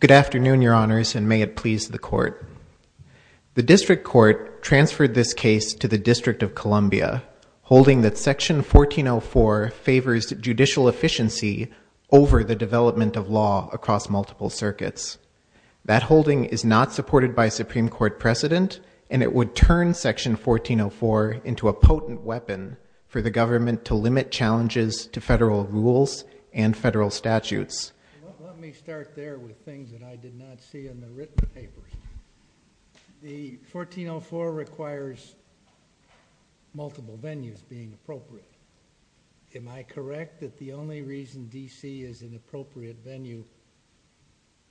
Good afternoon, Your Honors, and may it please the Court. The District Court transferred this case to the District of Columbia, holding that Section 1404 favors judicial efficiency over the development of law across multiple circuits. That holding is not supported by Supreme Court precedent, and it would turn Section 1404 into a potent weapon for the rules and federal statutes. Let me start there with things that I did not see in the written papers. The 1404 requires multiple venues being appropriate. Am I correct that the only reason D.C. is an appropriate venue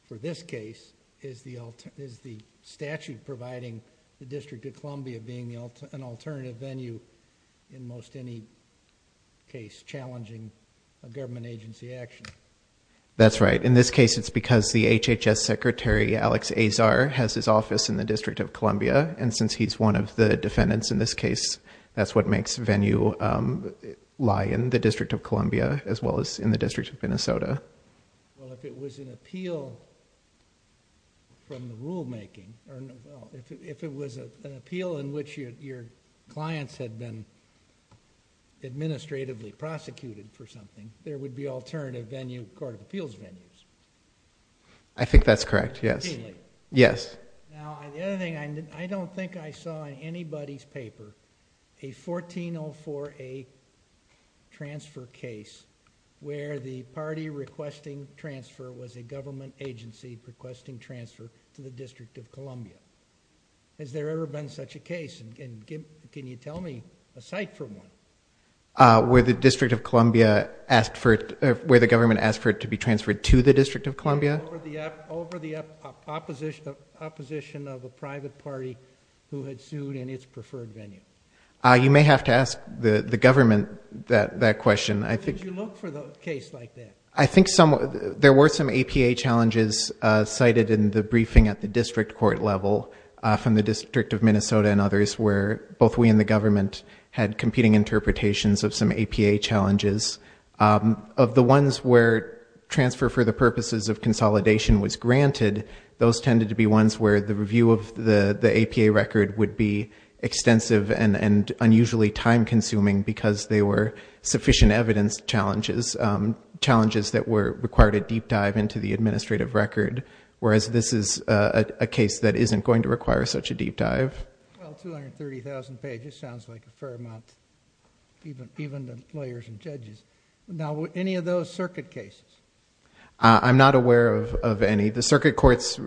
for this case is the statute providing the District of Columbia being an alternative venue in most any case challenging a government agency action? That's right. In this case, it's because the HHS Secretary, Alex Azar, has his office in the District of Columbia, and since he's one of the defendants in this case, that's what makes the venue lie in the District of Columbia as well as in the District of Minnesota. Well, if it was an appeal from the rulemaking, or if it was an appeal in which your clients had been administratively prosecuted for something, there would be alternative venue, court of appeals venues. I think that's correct, yes. Immediately? Yes. Now, the other thing, I don't think I saw in anybody's paper a 1404A transfer case where the party requesting transfer was a government agency requesting transfer to the District of Columbia. Has there ever been such a case, and can you tell me a site for one? Where the District of Columbia asked for, where the government asked for it to be transferred to the District of Columbia? Over the opposition of a private party who had sued in its preferred venue. You may have to ask the government that question. Did you look for a case like that? I think there were some APA challenges cited in the briefing at the district court level from the District of Minnesota and others where both we and the government had competing interpretations of some APA challenges. Of the ones where transfer for the purposes of consolidation was granted, those tended to be ones where the review of the APA record would be extensive and unusually time consuming because they were sufficient evidence challenges, challenges that required a deep dive into the administrative record, whereas this is a case that isn't going to require such a deep dive. Well, 230,000 pages sounds like a fair amount, even to lawyers and judges. Now, any of those circuit cases? I'm not aware of any. The circuit courts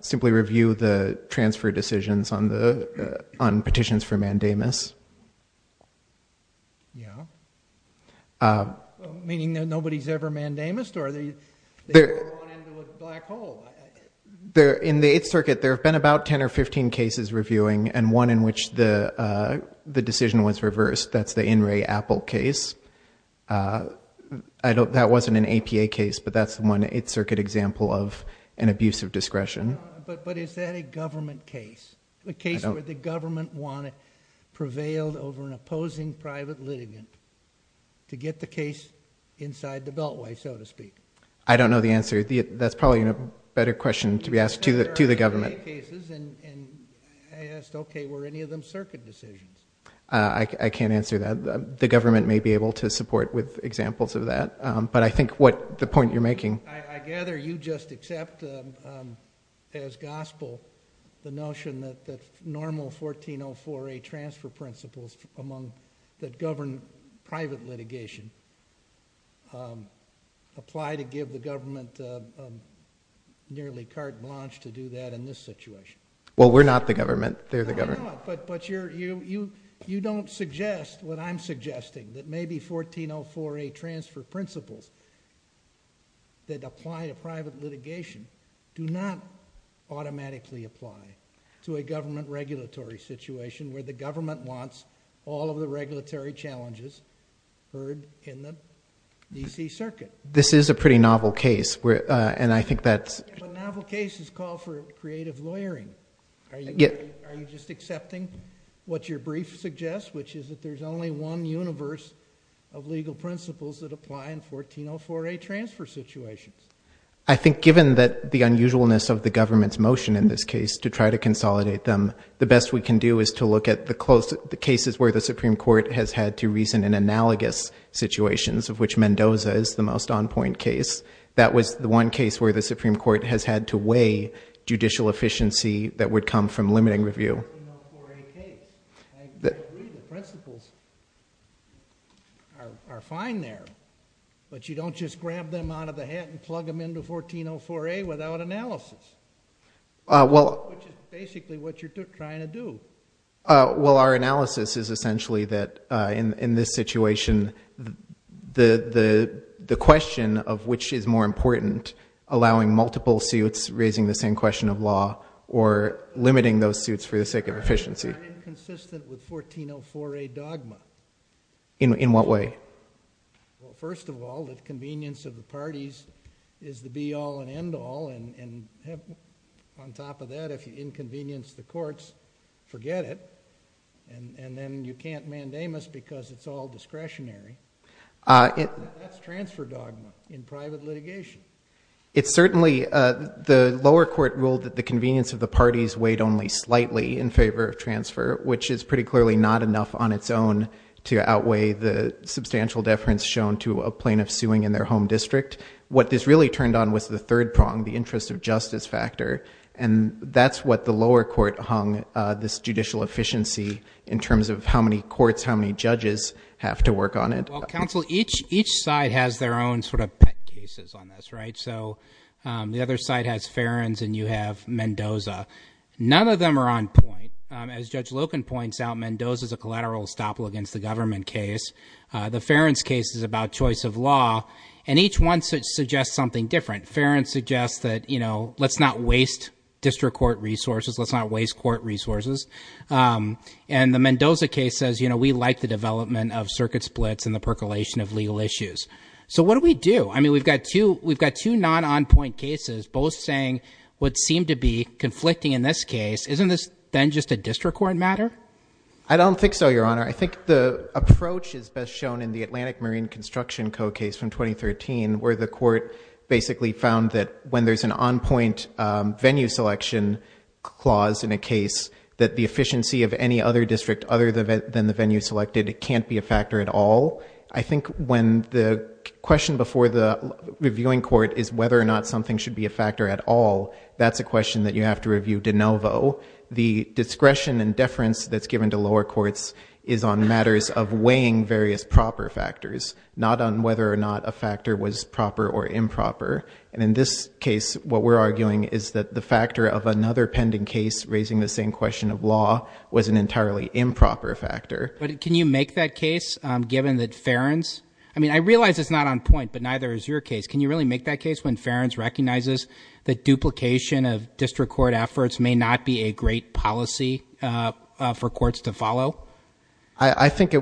simply review the transfer decisions on petitions for mandamus. Yeah. Meaning that nobody's ever mandamused or they go on into a black hole? In the Eighth Circuit, there have been about 10 or 15 cases reviewing and one in which the decision was reversed. That's the In re Apple case. That wasn't an APA case, but that's one Eighth Circuit example of an abuse of discretion. But is that a government case? A case where the government prevailed over an opposing private litigant to get the case inside the beltway, so to speak? I don't know the answer. That's probably a better question to be asked to the government. I asked, okay, were any of them circuit decisions? I can't answer that. The government may be able to support with examples of that. But I think what the point you're making- I gather you just accept as gospel the notion that normal 1404A transfer principles among that govern private litigation apply to give the government nearly carte blanche to do that in this situation. Well, we're not the government. They're the government. But you don't suggest what I'm suggesting, that maybe 1404A transfer principles that apply to private litigation do not automatically apply to a government regulatory situation where the government wants all of the regulatory challenges heard in the DC Circuit. This is a pretty novel case. And I think that's- But novel cases call for creative lawyering. Are you just accepting what your brief suggests, which is that there's only one universe of legal principles that apply in 1404A transfer situations? I think given that the unusualness of the government's motion in this case to try to consolidate them, the best we can do is to look at the cases where the Supreme Court has had to reason in analogous situations, of which Mendoza is the most on-point case. That was the one case where the Supreme Court has had to weigh judicial efficiency that would come from limiting review. 1404A case. I agree. The principles are fine there. But you don't just grab them out of the hat and plug them into 1404A without analysis. Which is basically what you're trying to do. Well, our analysis is essentially that in this situation, the question of which is more important, allowing multiple suits, raising the same question of law, or limiting those suits for the sake of efficiency. I'm inconsistent with 1404A dogma. In what way? Well, first of all, the convenience of the parties is the be-all and end-all, and on top of that, if you inconvenience the courts, forget it. And then you can't mandamus because it's all discretionary. That's transfer dogma in private litigation. It's certainly, the lower court ruled that the convenience of the parties weighed only slightly in favor of transfer, which is pretty clearly not enough on its own to outweigh the substantial deference shown to a plaintiff suing in their home district. What this really turned on was the third prong, the interest of justice factor, and that's what the lower court hung this judicial efficiency in terms of how many courts, how many judges have to work on it. Well, counsel, each side has their own sort of pet cases on this, right? So the other side has Ferens and you have Mendoza. None of them are on point. As Judge Loken points out, Mendoza's a collateral estoppel against the government case. The Ferens case is about choice of law, and each one suggests something different. Ferens suggests that, you know, let's not waste district court resources. Let's not waste court resources. And the Mendoza case says, you know, we like the development of circuit splits and the percolation of legal issues. So what do we do? I mean, we've got two non-on-point cases both saying what seemed to be conflicting in this case. Isn't this then just a district court matter? I don't think so, Your Honor. I think the approach is best shown in the Atlantic Marine Construction Code case from 2013, where the court basically found that when there's an on-point venue selection clause in a case, that the efficiency of any other district other than the venue selected can't be a factor at all. I think when the question before the reviewing court is whether or not something should be a factor at all, that's a question that you have to review de novo. The discretion and deference that's given to lower courts is on matters of weighing various proper factors, not on whether or not a factor was proper or improper. And in this case, what we're arguing is that the factor of another pending case raising the same question of law was an entirely improper factor. But can you make that case, given that Ferens, I mean, I realize it's not on point, but neither is your case. Can you really make that case when Ferens recognizes that duplication of district court efforts may not be a great policy for courts to follow? I think,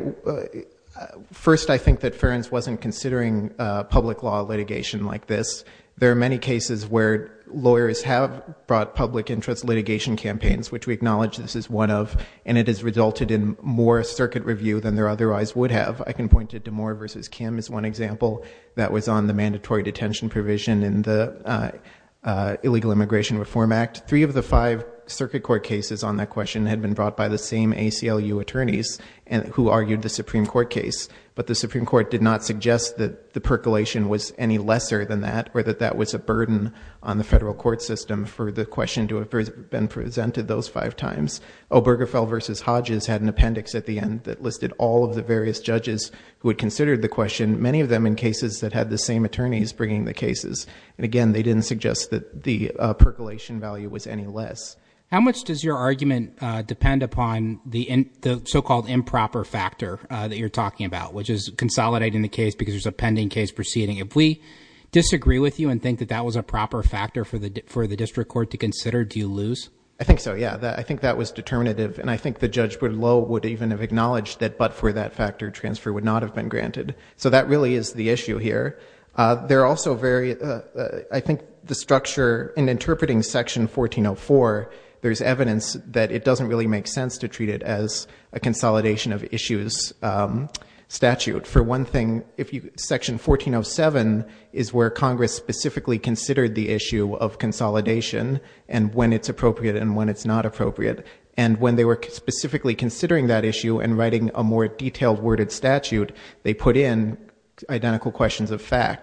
first, I think that Ferens wasn't considering public law litigation like this. There are many cases where lawyers have brought public interest litigation campaigns, which we acknowledge this is one of, and it has resulted in more circuit review than there otherwise would have. I can point it to Moore v. Kim as one example that was on the mandatory detention provision in the Illegal Immigration Reform Act. Three of the five circuit court cases on that question had been brought by the same ACLU attorneys who argued the Supreme Court case. But the Supreme Court did not suggest that the percolation was any lesser than that or that that was a burden on the federal court system for the question to have been presented those five times. Obergefell v. Hodges had an appendix at the end that listed all of the various judges who had considered the question, many of them in cases that had the same attorneys bringing the cases. And again, they didn't suggest that the percolation value was any less. How much does your argument depend upon the so-called improper factor that you're talking about, which is consolidating the case because there's a pending case proceeding? If we disagree with you and think that that was a proper factor for the for the district court to consider, do you lose? I think so. Yeah, I think that was determinative. And I think the judge would low would even have acknowledged that. But for that factor, transfer would not have been granted. So that really is the issue here. They're also very I think the structure in interpreting Section 1404, there's evidence that it doesn't really make sense to treat it as a consolidation of issues statute. For one thing, if you Section 1407 is where Congress specifically considered the issue of consolidation and when it's appropriate and when it's not appropriate, and when they were specifically considering that issue and writing a more detailed worded fact,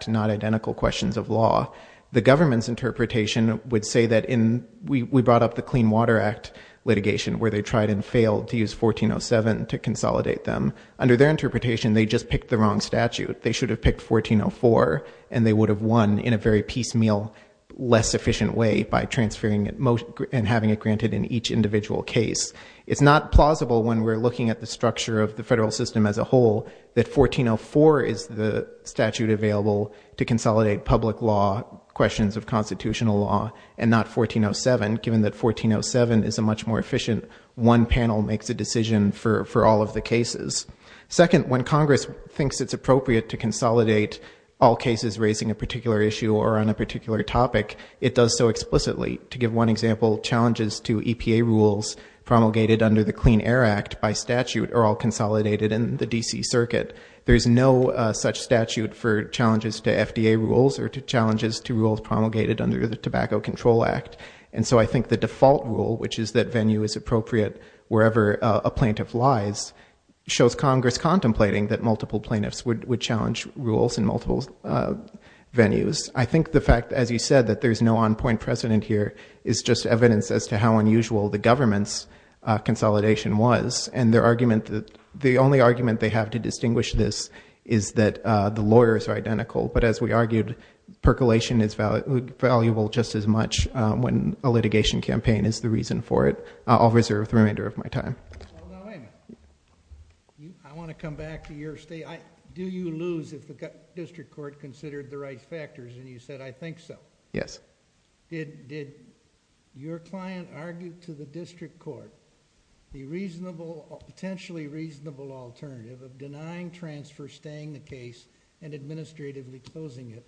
not identical questions of law, the government's interpretation would say that in we brought up the Clean Water Act litigation where they tried and failed to use 1407 to consolidate them under their interpretation. They just picked the wrong statute. They should have picked 1404 and they would have won in a very piecemeal, less efficient way by transferring it and having it granted in each individual case. It's not plausible when we're looking at the structure of the federal system as a consolidate public law, questions of constitutional law, and not 1407, given that 1407 is a much more efficient one panel makes a decision for all of the cases. Second, when Congress thinks it's appropriate to consolidate all cases raising a particular issue or on a particular topic, it does so explicitly. To give one example, challenges to EPA rules promulgated under the Clean Air Act by statute are all consolidated in the D.C. Circuit. There is no such statute for challenges to FDA rules or to challenges to rules promulgated under the Tobacco Control Act. And so I think the default rule, which is that venue is appropriate wherever a plaintiff lies, shows Congress contemplating that multiple plaintiffs would challenge rules in multiple venues. I think the fact, as you said, that there's no on point precedent here is just evidence as to how unusual the government's consolidation was and their argument that the only argument they have to distinguish this is that the lawyers are identical. But as we argued, percolation is valuable just as much when a litigation campaign is the reason for it. I'll reserve the remainder of my time. I want to come back to your state. Do you lose if the district court considered the right factors? And you said, I think so. Yes. Did your client argue to the district court the reasonable, potentially reasonable alternative of denying transfer, staying the case and administratively closing it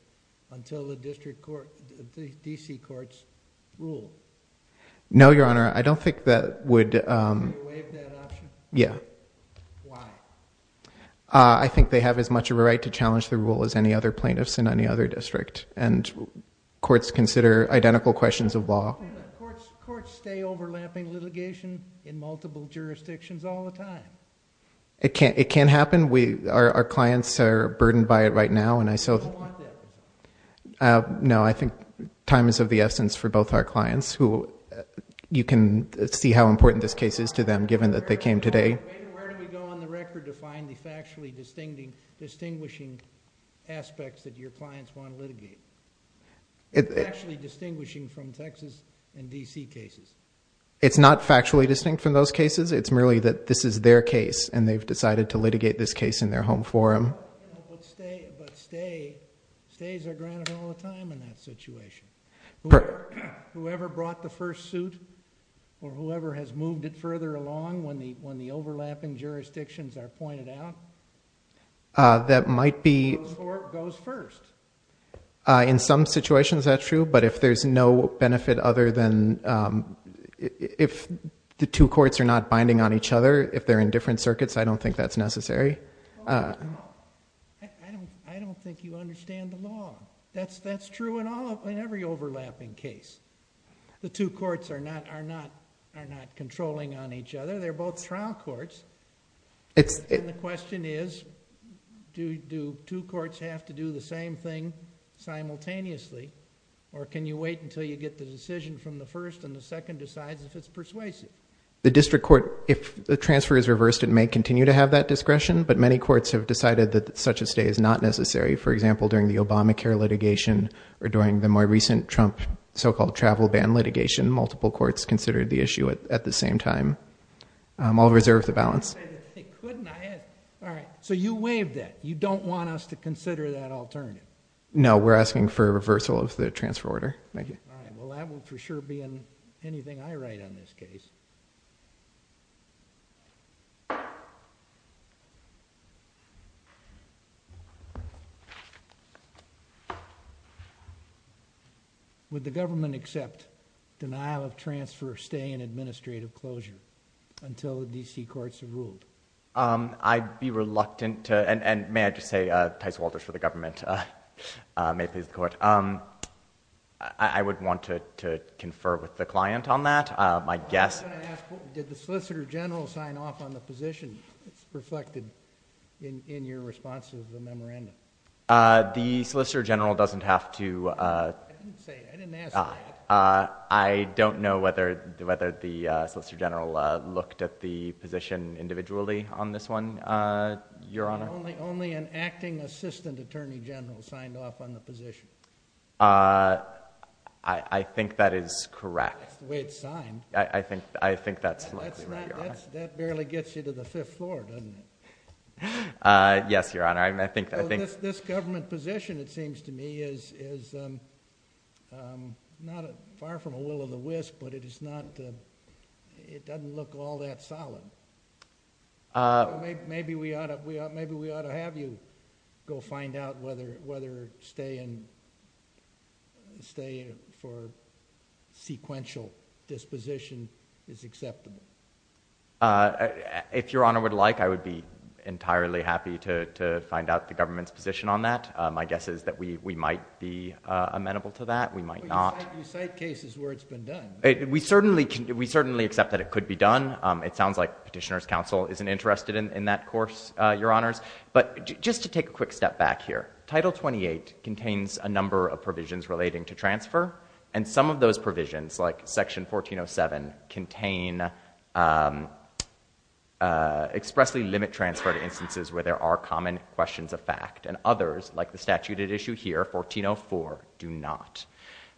until the district court, the D.C. courts rule? No, Your Honor. I don't think that would, um, yeah. Uh, I think they have as much of a right to challenge the rule as any other plaintiffs in any other district. And courts consider identical questions of law. Courts stay overlapping litigation in multiple jurisdictions all the time. It can't, it can happen. We, our, our clients are burdened by it right now. And I, so, uh, no, I think time is of the essence for both our clients who you can see how important this case is to them, given that they came today. Where do we go on the record to find the factually distinguishing aspects that your clients want to litigate? It's actually distinguishing from Texas and D.C. cases. It's not factually distinct from those cases. It's merely that this is their case and they've decided to litigate this case in their home forum. But stay, but stay, stays are granted all the time in that situation. Whoever brought the first suit or whoever has moved it further along when the, when the overlapping jurisdictions are pointed out. Uh, that might be. The court goes first. Uh, in some situations that's true, but if there's no benefit other than, um, if the two courts are not binding on each other, if they're in different circuits, I don't think that's necessary. Uh, I don't, I don't think you understand the law. That's, that's true in all, in every overlapping case. The two courts are not, are not, are not controlling on each other. They're both trial courts. It's the question is, do, do two courts have to do the same thing simultaneously? Or can you wait until you get the decision from the first and the second decides if it's persuasive? The district court, if the transfer is reversed, it may continue to have that discretion, but many courts have decided that such a stay is not necessary. For example, during the Obamacare litigation or during the more recent Trump so-called travel ban litigation, multiple courts considered the issue at the same time, um, all reserve the balance. All right. So you waived that. You don't want us to consider that alternative. No, we're asking for a reversal of the transfer order. Thank you. Well, that will for sure be in anything I write on this case. Would the government accept denial of transfer stay in administrative closure until the DC courts have ruled? Um, I'd be reluctant to, and, and may I just say, uh, Tice Walters for the government, uh, uh, may it please the court. Um, I would want to, to confer with the client on that. Uh, my guess. Did the solicitor general sign off on the position? It's reflected in, in your response to the memorandum. Uh, the solicitor general doesn't have to, uh, uh, I don't know whether, whether the, uh, solicitor general, uh, looked at the position individually on this one. Uh, your honor, only an acting assistant attorney general signed off on the position. Uh, I think that is correct. That's the way it's signed. I think, I think that's likely. That barely gets you to the fifth floor, doesn't it? Uh, yes, your honor. I think, I think this, this government position, it seems to me is, is, um, um, not far from a will of the wisp, but it is not, uh, it doesn't look all that solid. Uh, maybe we ought to, we ought, maybe we ought to have you go find out whether, whether stay in, stay for sequential disposition is acceptable. Uh, if your honor would like, I would be entirely happy to, to find out the government's position on that. Um, my guess is that we, we might be, uh, amenable to that. We might not. You cite cases where it's been done. We certainly can, we certainly accept that it could be done. Um, it sounds like petitioner's counsel isn't interested in that course, uh, your honors, but just to take a quick step back here. Title 28 contains a number of provisions relating to transfer and some of those provisions like section 1407 contain, um, uh, expressly limit transfer to instances where there are common questions of fact and others like the statute at issue here, 1404 do not.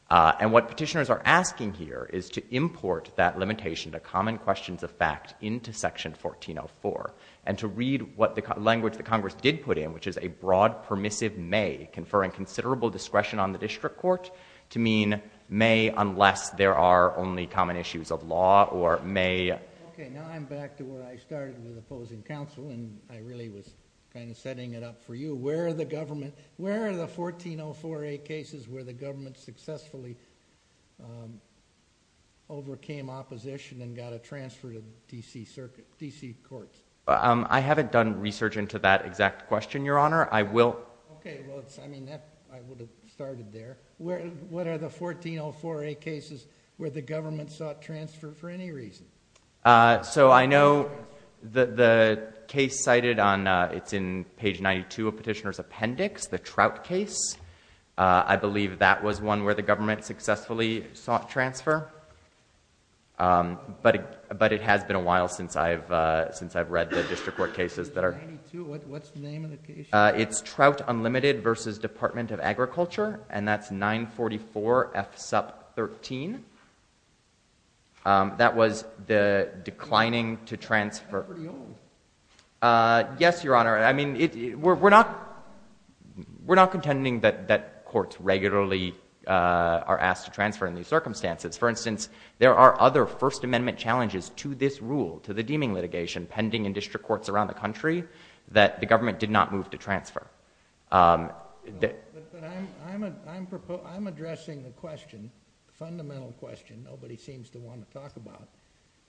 Uh, and what petitioners are asking here is to import that limitation to common questions of fact into section 1404 and to read what the language that Congress did put in, which is a broad permissive may conferring considerable discretion on the district court to mean may, unless there are only common issues of law or may. Okay. Now I'm back to where I started with opposing counsel and I really was kind of setting it up for you. Where are the government, where are the 1404A cases where the government successfully, um, overcame opposition and got a transfer to DC circuit, DC courts? Um, I haven't done research into that exact question, your honor. I will, okay. Well, it's, I mean, that I would have started there. Where, what are the 1404A cases where the government sought transfer for any reason? Uh, so I know that the case cited on, uh, it's in page 92 of petitioner's appendix, the trout case. Uh, I believe that was one where the government successfully sought transfer. Um, but, but it has been a while since I've, uh, since I've read the district court cases that are, uh, it's trout unlimited versus department of agriculture. And that's nine 44 F sup 13. Um, that was the declining to transfer. Uh, yes, your honor. I mean, it, we're, we're not, we're not contending that, that courts regularly, uh, are asked to transfer in these circumstances. For instance, there are other first amendment challenges to this rule, to the deeming litigation pending in district courts around the country that the government did not move to transfer. Um, I'm proposing, I'm addressing the question, the fundamental question nobody seems to want to talk about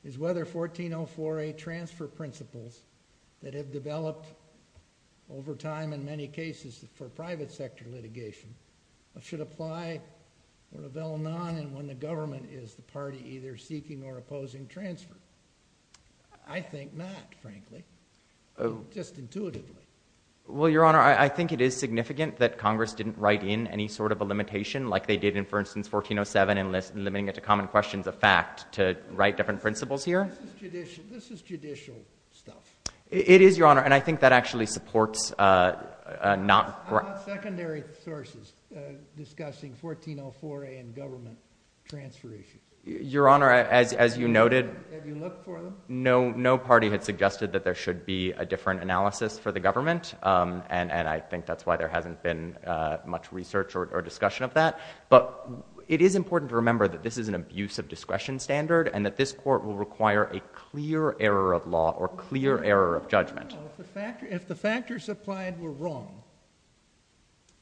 is whether 1404A transfer principles that have developed over time in many cases for private sector litigation should apply when a bill non, and when the government is the party either seeking or opposing transfer, I think not frankly, just intuitively. Well, your honor, I think it is significant that Congress didn't write in any sort of a limitation like they did in, for instance, 1407 and list and limiting it to common questions of fact to write different principles here. This is judicial stuff. It is your honor. And I think that actually supports, uh, uh, not secondary sources, uh, discussing 1404A and government transfer issues. Your honor, as, as you noted, no, no party had suggested that there should be a different analysis for the government. Um, and, and I think that's why there hasn't been, uh, much research or discussion of that, but it is important to remember that this is an abuse of discretion standard and that this court will require a clear error of law or clear error of judgment. If the factors applied were wrong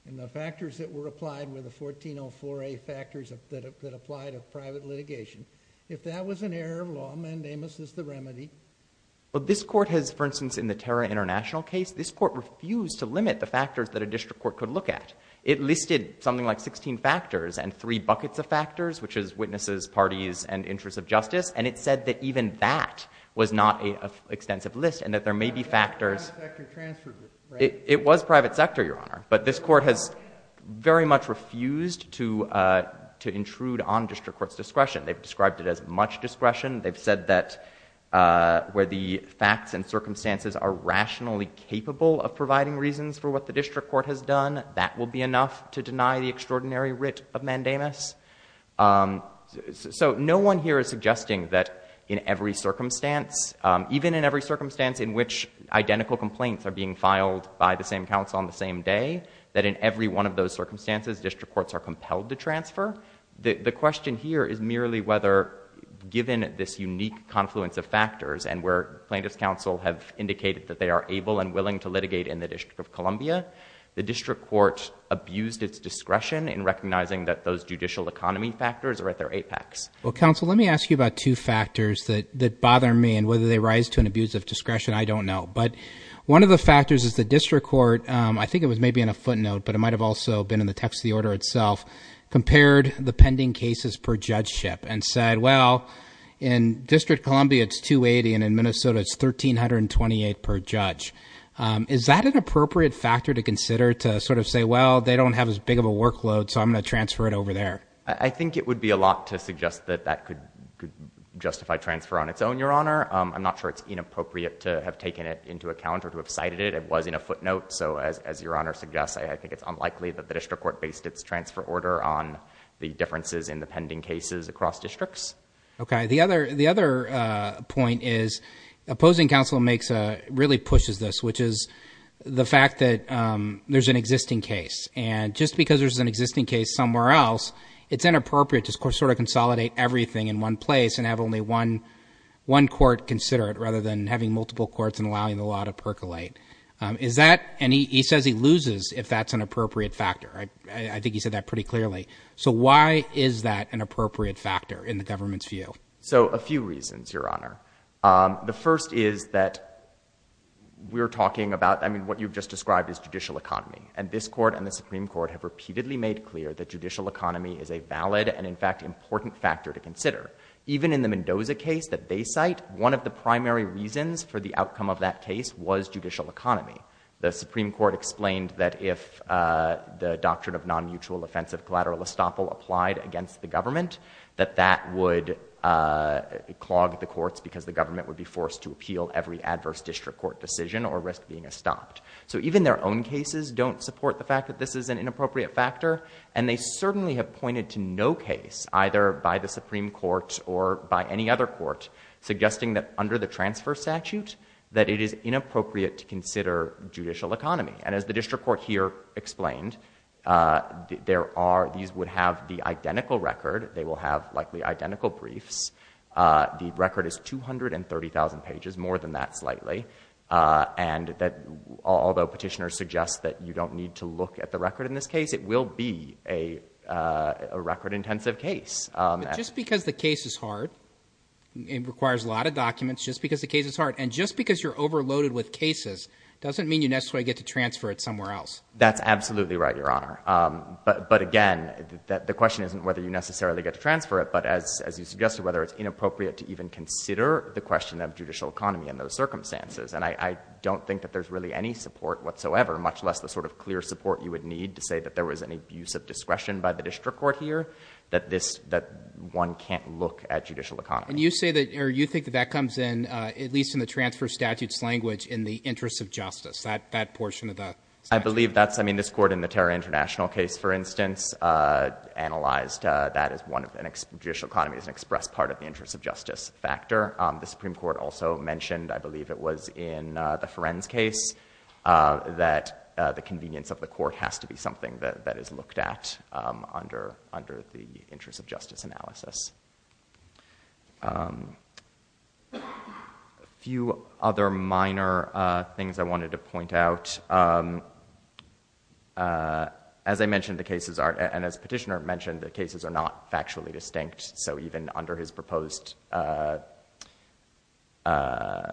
and the factors that were applied were the 1404A factors that applied of private litigation. If that was an error of law, mandamus is the remedy. Well, this court has, for instance, in the Terra international case, this court refused to limit the factors that a district court could look at. It listed something like 16 factors and three buckets of factors, which is witnesses, parties, and interests of justice. And it said that even that was not a extensive list and that there may be factors, it was private sector, your honor, but this court has very much refused to, uh, to intrude on district court's discretion. They've described it as much discretion. They've said that, uh, where the facts and circumstances are rationally capable of providing reasons for what the district court has done, that will be enough to deny the extraordinary writ of mandamus. Um, so no one here is suggesting that in every circumstance, um, even in every instance, identical complaints are being filed by the same council on the same day, that in every one of those circumstances, district courts are compelled to transfer. The question here is merely whether given this unique confluence of factors and where plaintiff's counsel have indicated that they are able and willing to litigate in the district of Columbia, the district court abused its discretion in recognizing that those judicial economy factors are at their apex. Well, counsel, let me ask you about two factors that, that bother me and whether they rise to an abuse of discretion. I don't know. But one of the factors is the district court, um, I think it was maybe in a footnote, but it might've also been in the text of the order itself, compared the pending cases per judgeship and said, well, in district Columbia, it's 280 and in Minnesota, it's 1,328 per judge. Um, is that an appropriate factor to consider to sort of say, well, they don't have as big of a workload, so I'm going to transfer it over there. I think it would be a lot to suggest that that could justify transfer on its own. Your honor. Um, I'm not sure it's inappropriate to have taken it into account or to have cited it. It was in a footnote. So as, as your honor suggests, I think it's unlikely that the district court based its transfer order on the differences in the pending cases across districts. Okay. The other, the other, uh, point is opposing counsel makes a really pushes this, which is the fact that, um, there's an existing case and just because there's an existing case somewhere else, it's inappropriate to sort of consolidate everything in one place and have only one, one court consider it rather than having multiple courts and allowing a lot of percolate. Um, is that any, he says he loses if that's an appropriate factor. I, I think he said that pretty clearly. So why is that an appropriate factor in the government's view? So a few reasons, your honor. Um, the first is that we're talking about, I mean, what you've just described is judicial economy and this court and the Supreme court have repeatedly made clear that judicial economy is a valid and in fact, important factor to consider. Even in the Mendoza case that they cite, one of the primary reasons for the outcome of that case was judicial economy. The Supreme court explained that if, uh, the doctrine of non-mutual offensive collateral estoppel applied against the government, that that would, uh, clog the courts because the government would be forced to appeal every adverse district court decision or risk being a stopped. So even their own cases don't support the fact that this is an inappropriate factor. And they certainly have pointed to no case either by the Supreme court or by any other court suggesting that under the transfer statute, that it is inappropriate to consider judicial economy. And as the district court here explained, uh, there are, these would have the identical record. They will have likely identical briefs. Uh, the record is 230,000 pages, more than that slightly. Uh, and that although petitioners suggest that you don't need to look at the record in this case, it will be a, uh, a record intensive case. Um, just because the case is hard, it requires a lot of documents just because the case is hard. And just because you're overloaded with cases doesn't mean you necessarily get to transfer it somewhere else. That's absolutely right, your honor. Um, but, but again, that the question isn't whether you necessarily get to transfer it, but as, as you suggested, whether it's inappropriate to even consider the question of judicial economy in those circumstances. And I don't think that there's really any support whatsoever, much less the sort of clear support you would need to say that there was any abuse of discretion by the district court here, that this, that one can't look at judicial economy. And you say that, or you think that that comes in, uh, at least in the transfer statutes language in the interest of justice, that, that portion of that. I believe that's, I mean, this court in the terror international case, for instance, uh, analyzed, uh, that as one of the judicial economies and express part of the interest of justice factor. Um, the Supreme court also mentioned, I believe it was in, uh, the Ferencz case, uh, that, uh, the convenience of the court has to be something that, that is looked at, um, under, under the interest of justice analysis. Um, a few other minor, uh, things I wanted to point out. Um, uh, as I mentioned, the cases are, and as petitioner mentioned, the cases are not factually distinct. So even under his proposed, uh, uh,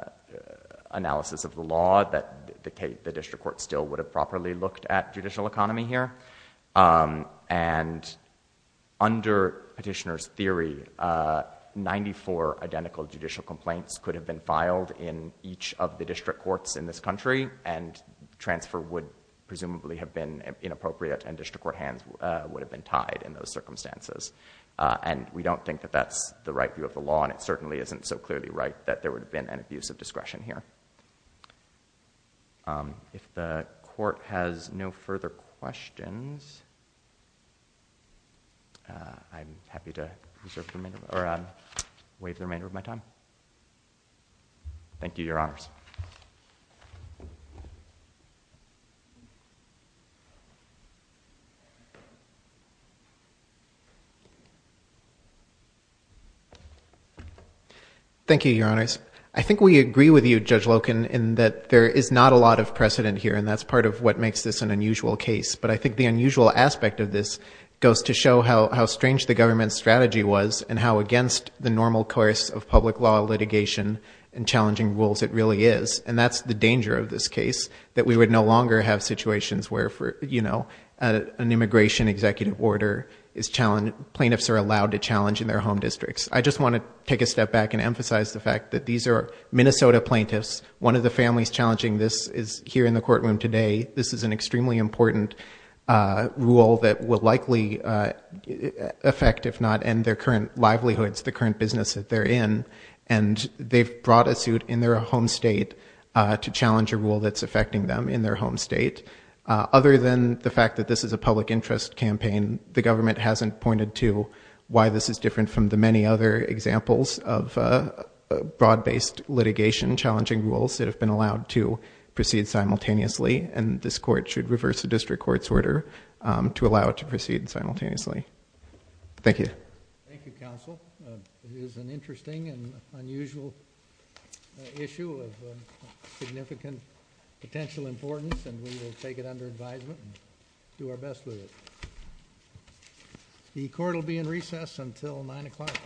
analysis of the law that the tape, the district court still would have properly looked at judicial economy here. Um, and under petitioner's theory, uh, 94 identical judicial complaints could have been filed in each of the district courts in this country and transfer would presumably have been inappropriate and district court hands, uh, would have been tied in those circumstances. Uh, and we don't think that that's the right view of the law. And it certainly isn't so clearly right that there would have been an abuse of discretion here. Um, if the court has no further questions, uh, I'm happy to reserve the remainder or, um, waive the remainder of my time. Thank you, your honors. I think we agree with you, judge Loken, in that there is not a lot of precedent here and that's part of what makes this an unusual case, but I think the unusual aspect of this goes to show how, how strange the government's strategy was and how against the normal course of public law litigation and challenging rules, it really is. And that's the danger of this case that we would no longer have situations where for, you know, uh, an immigration executive order is challenged, plaintiffs are allowed to challenge in their home districts. I just want to take a step back and emphasize the fact that these are Minnesota plaintiffs. One of the families challenging this is here in the courtroom today. This is an extremely important, uh, rule that will likely, uh, affect, if not end their current livelihoods, the current business that they're in. And they've brought a suit in their home state, uh, to challenge a rule that's affecting them in their home state. Uh, other than the fact that this is a public interest campaign, the government hasn't pointed to why this is different from the many other examples of a broad based litigation, challenging rules that have been allowed to proceed simultaneously. And this court should reverse the district court's order, um, to allow it to proceed simultaneously. Thank you. Thank you, counsel. It is an interesting and unusual issue of significant potential importance, and we will take it under advisement and do our best with it. The court will be in recess until nine o'clock.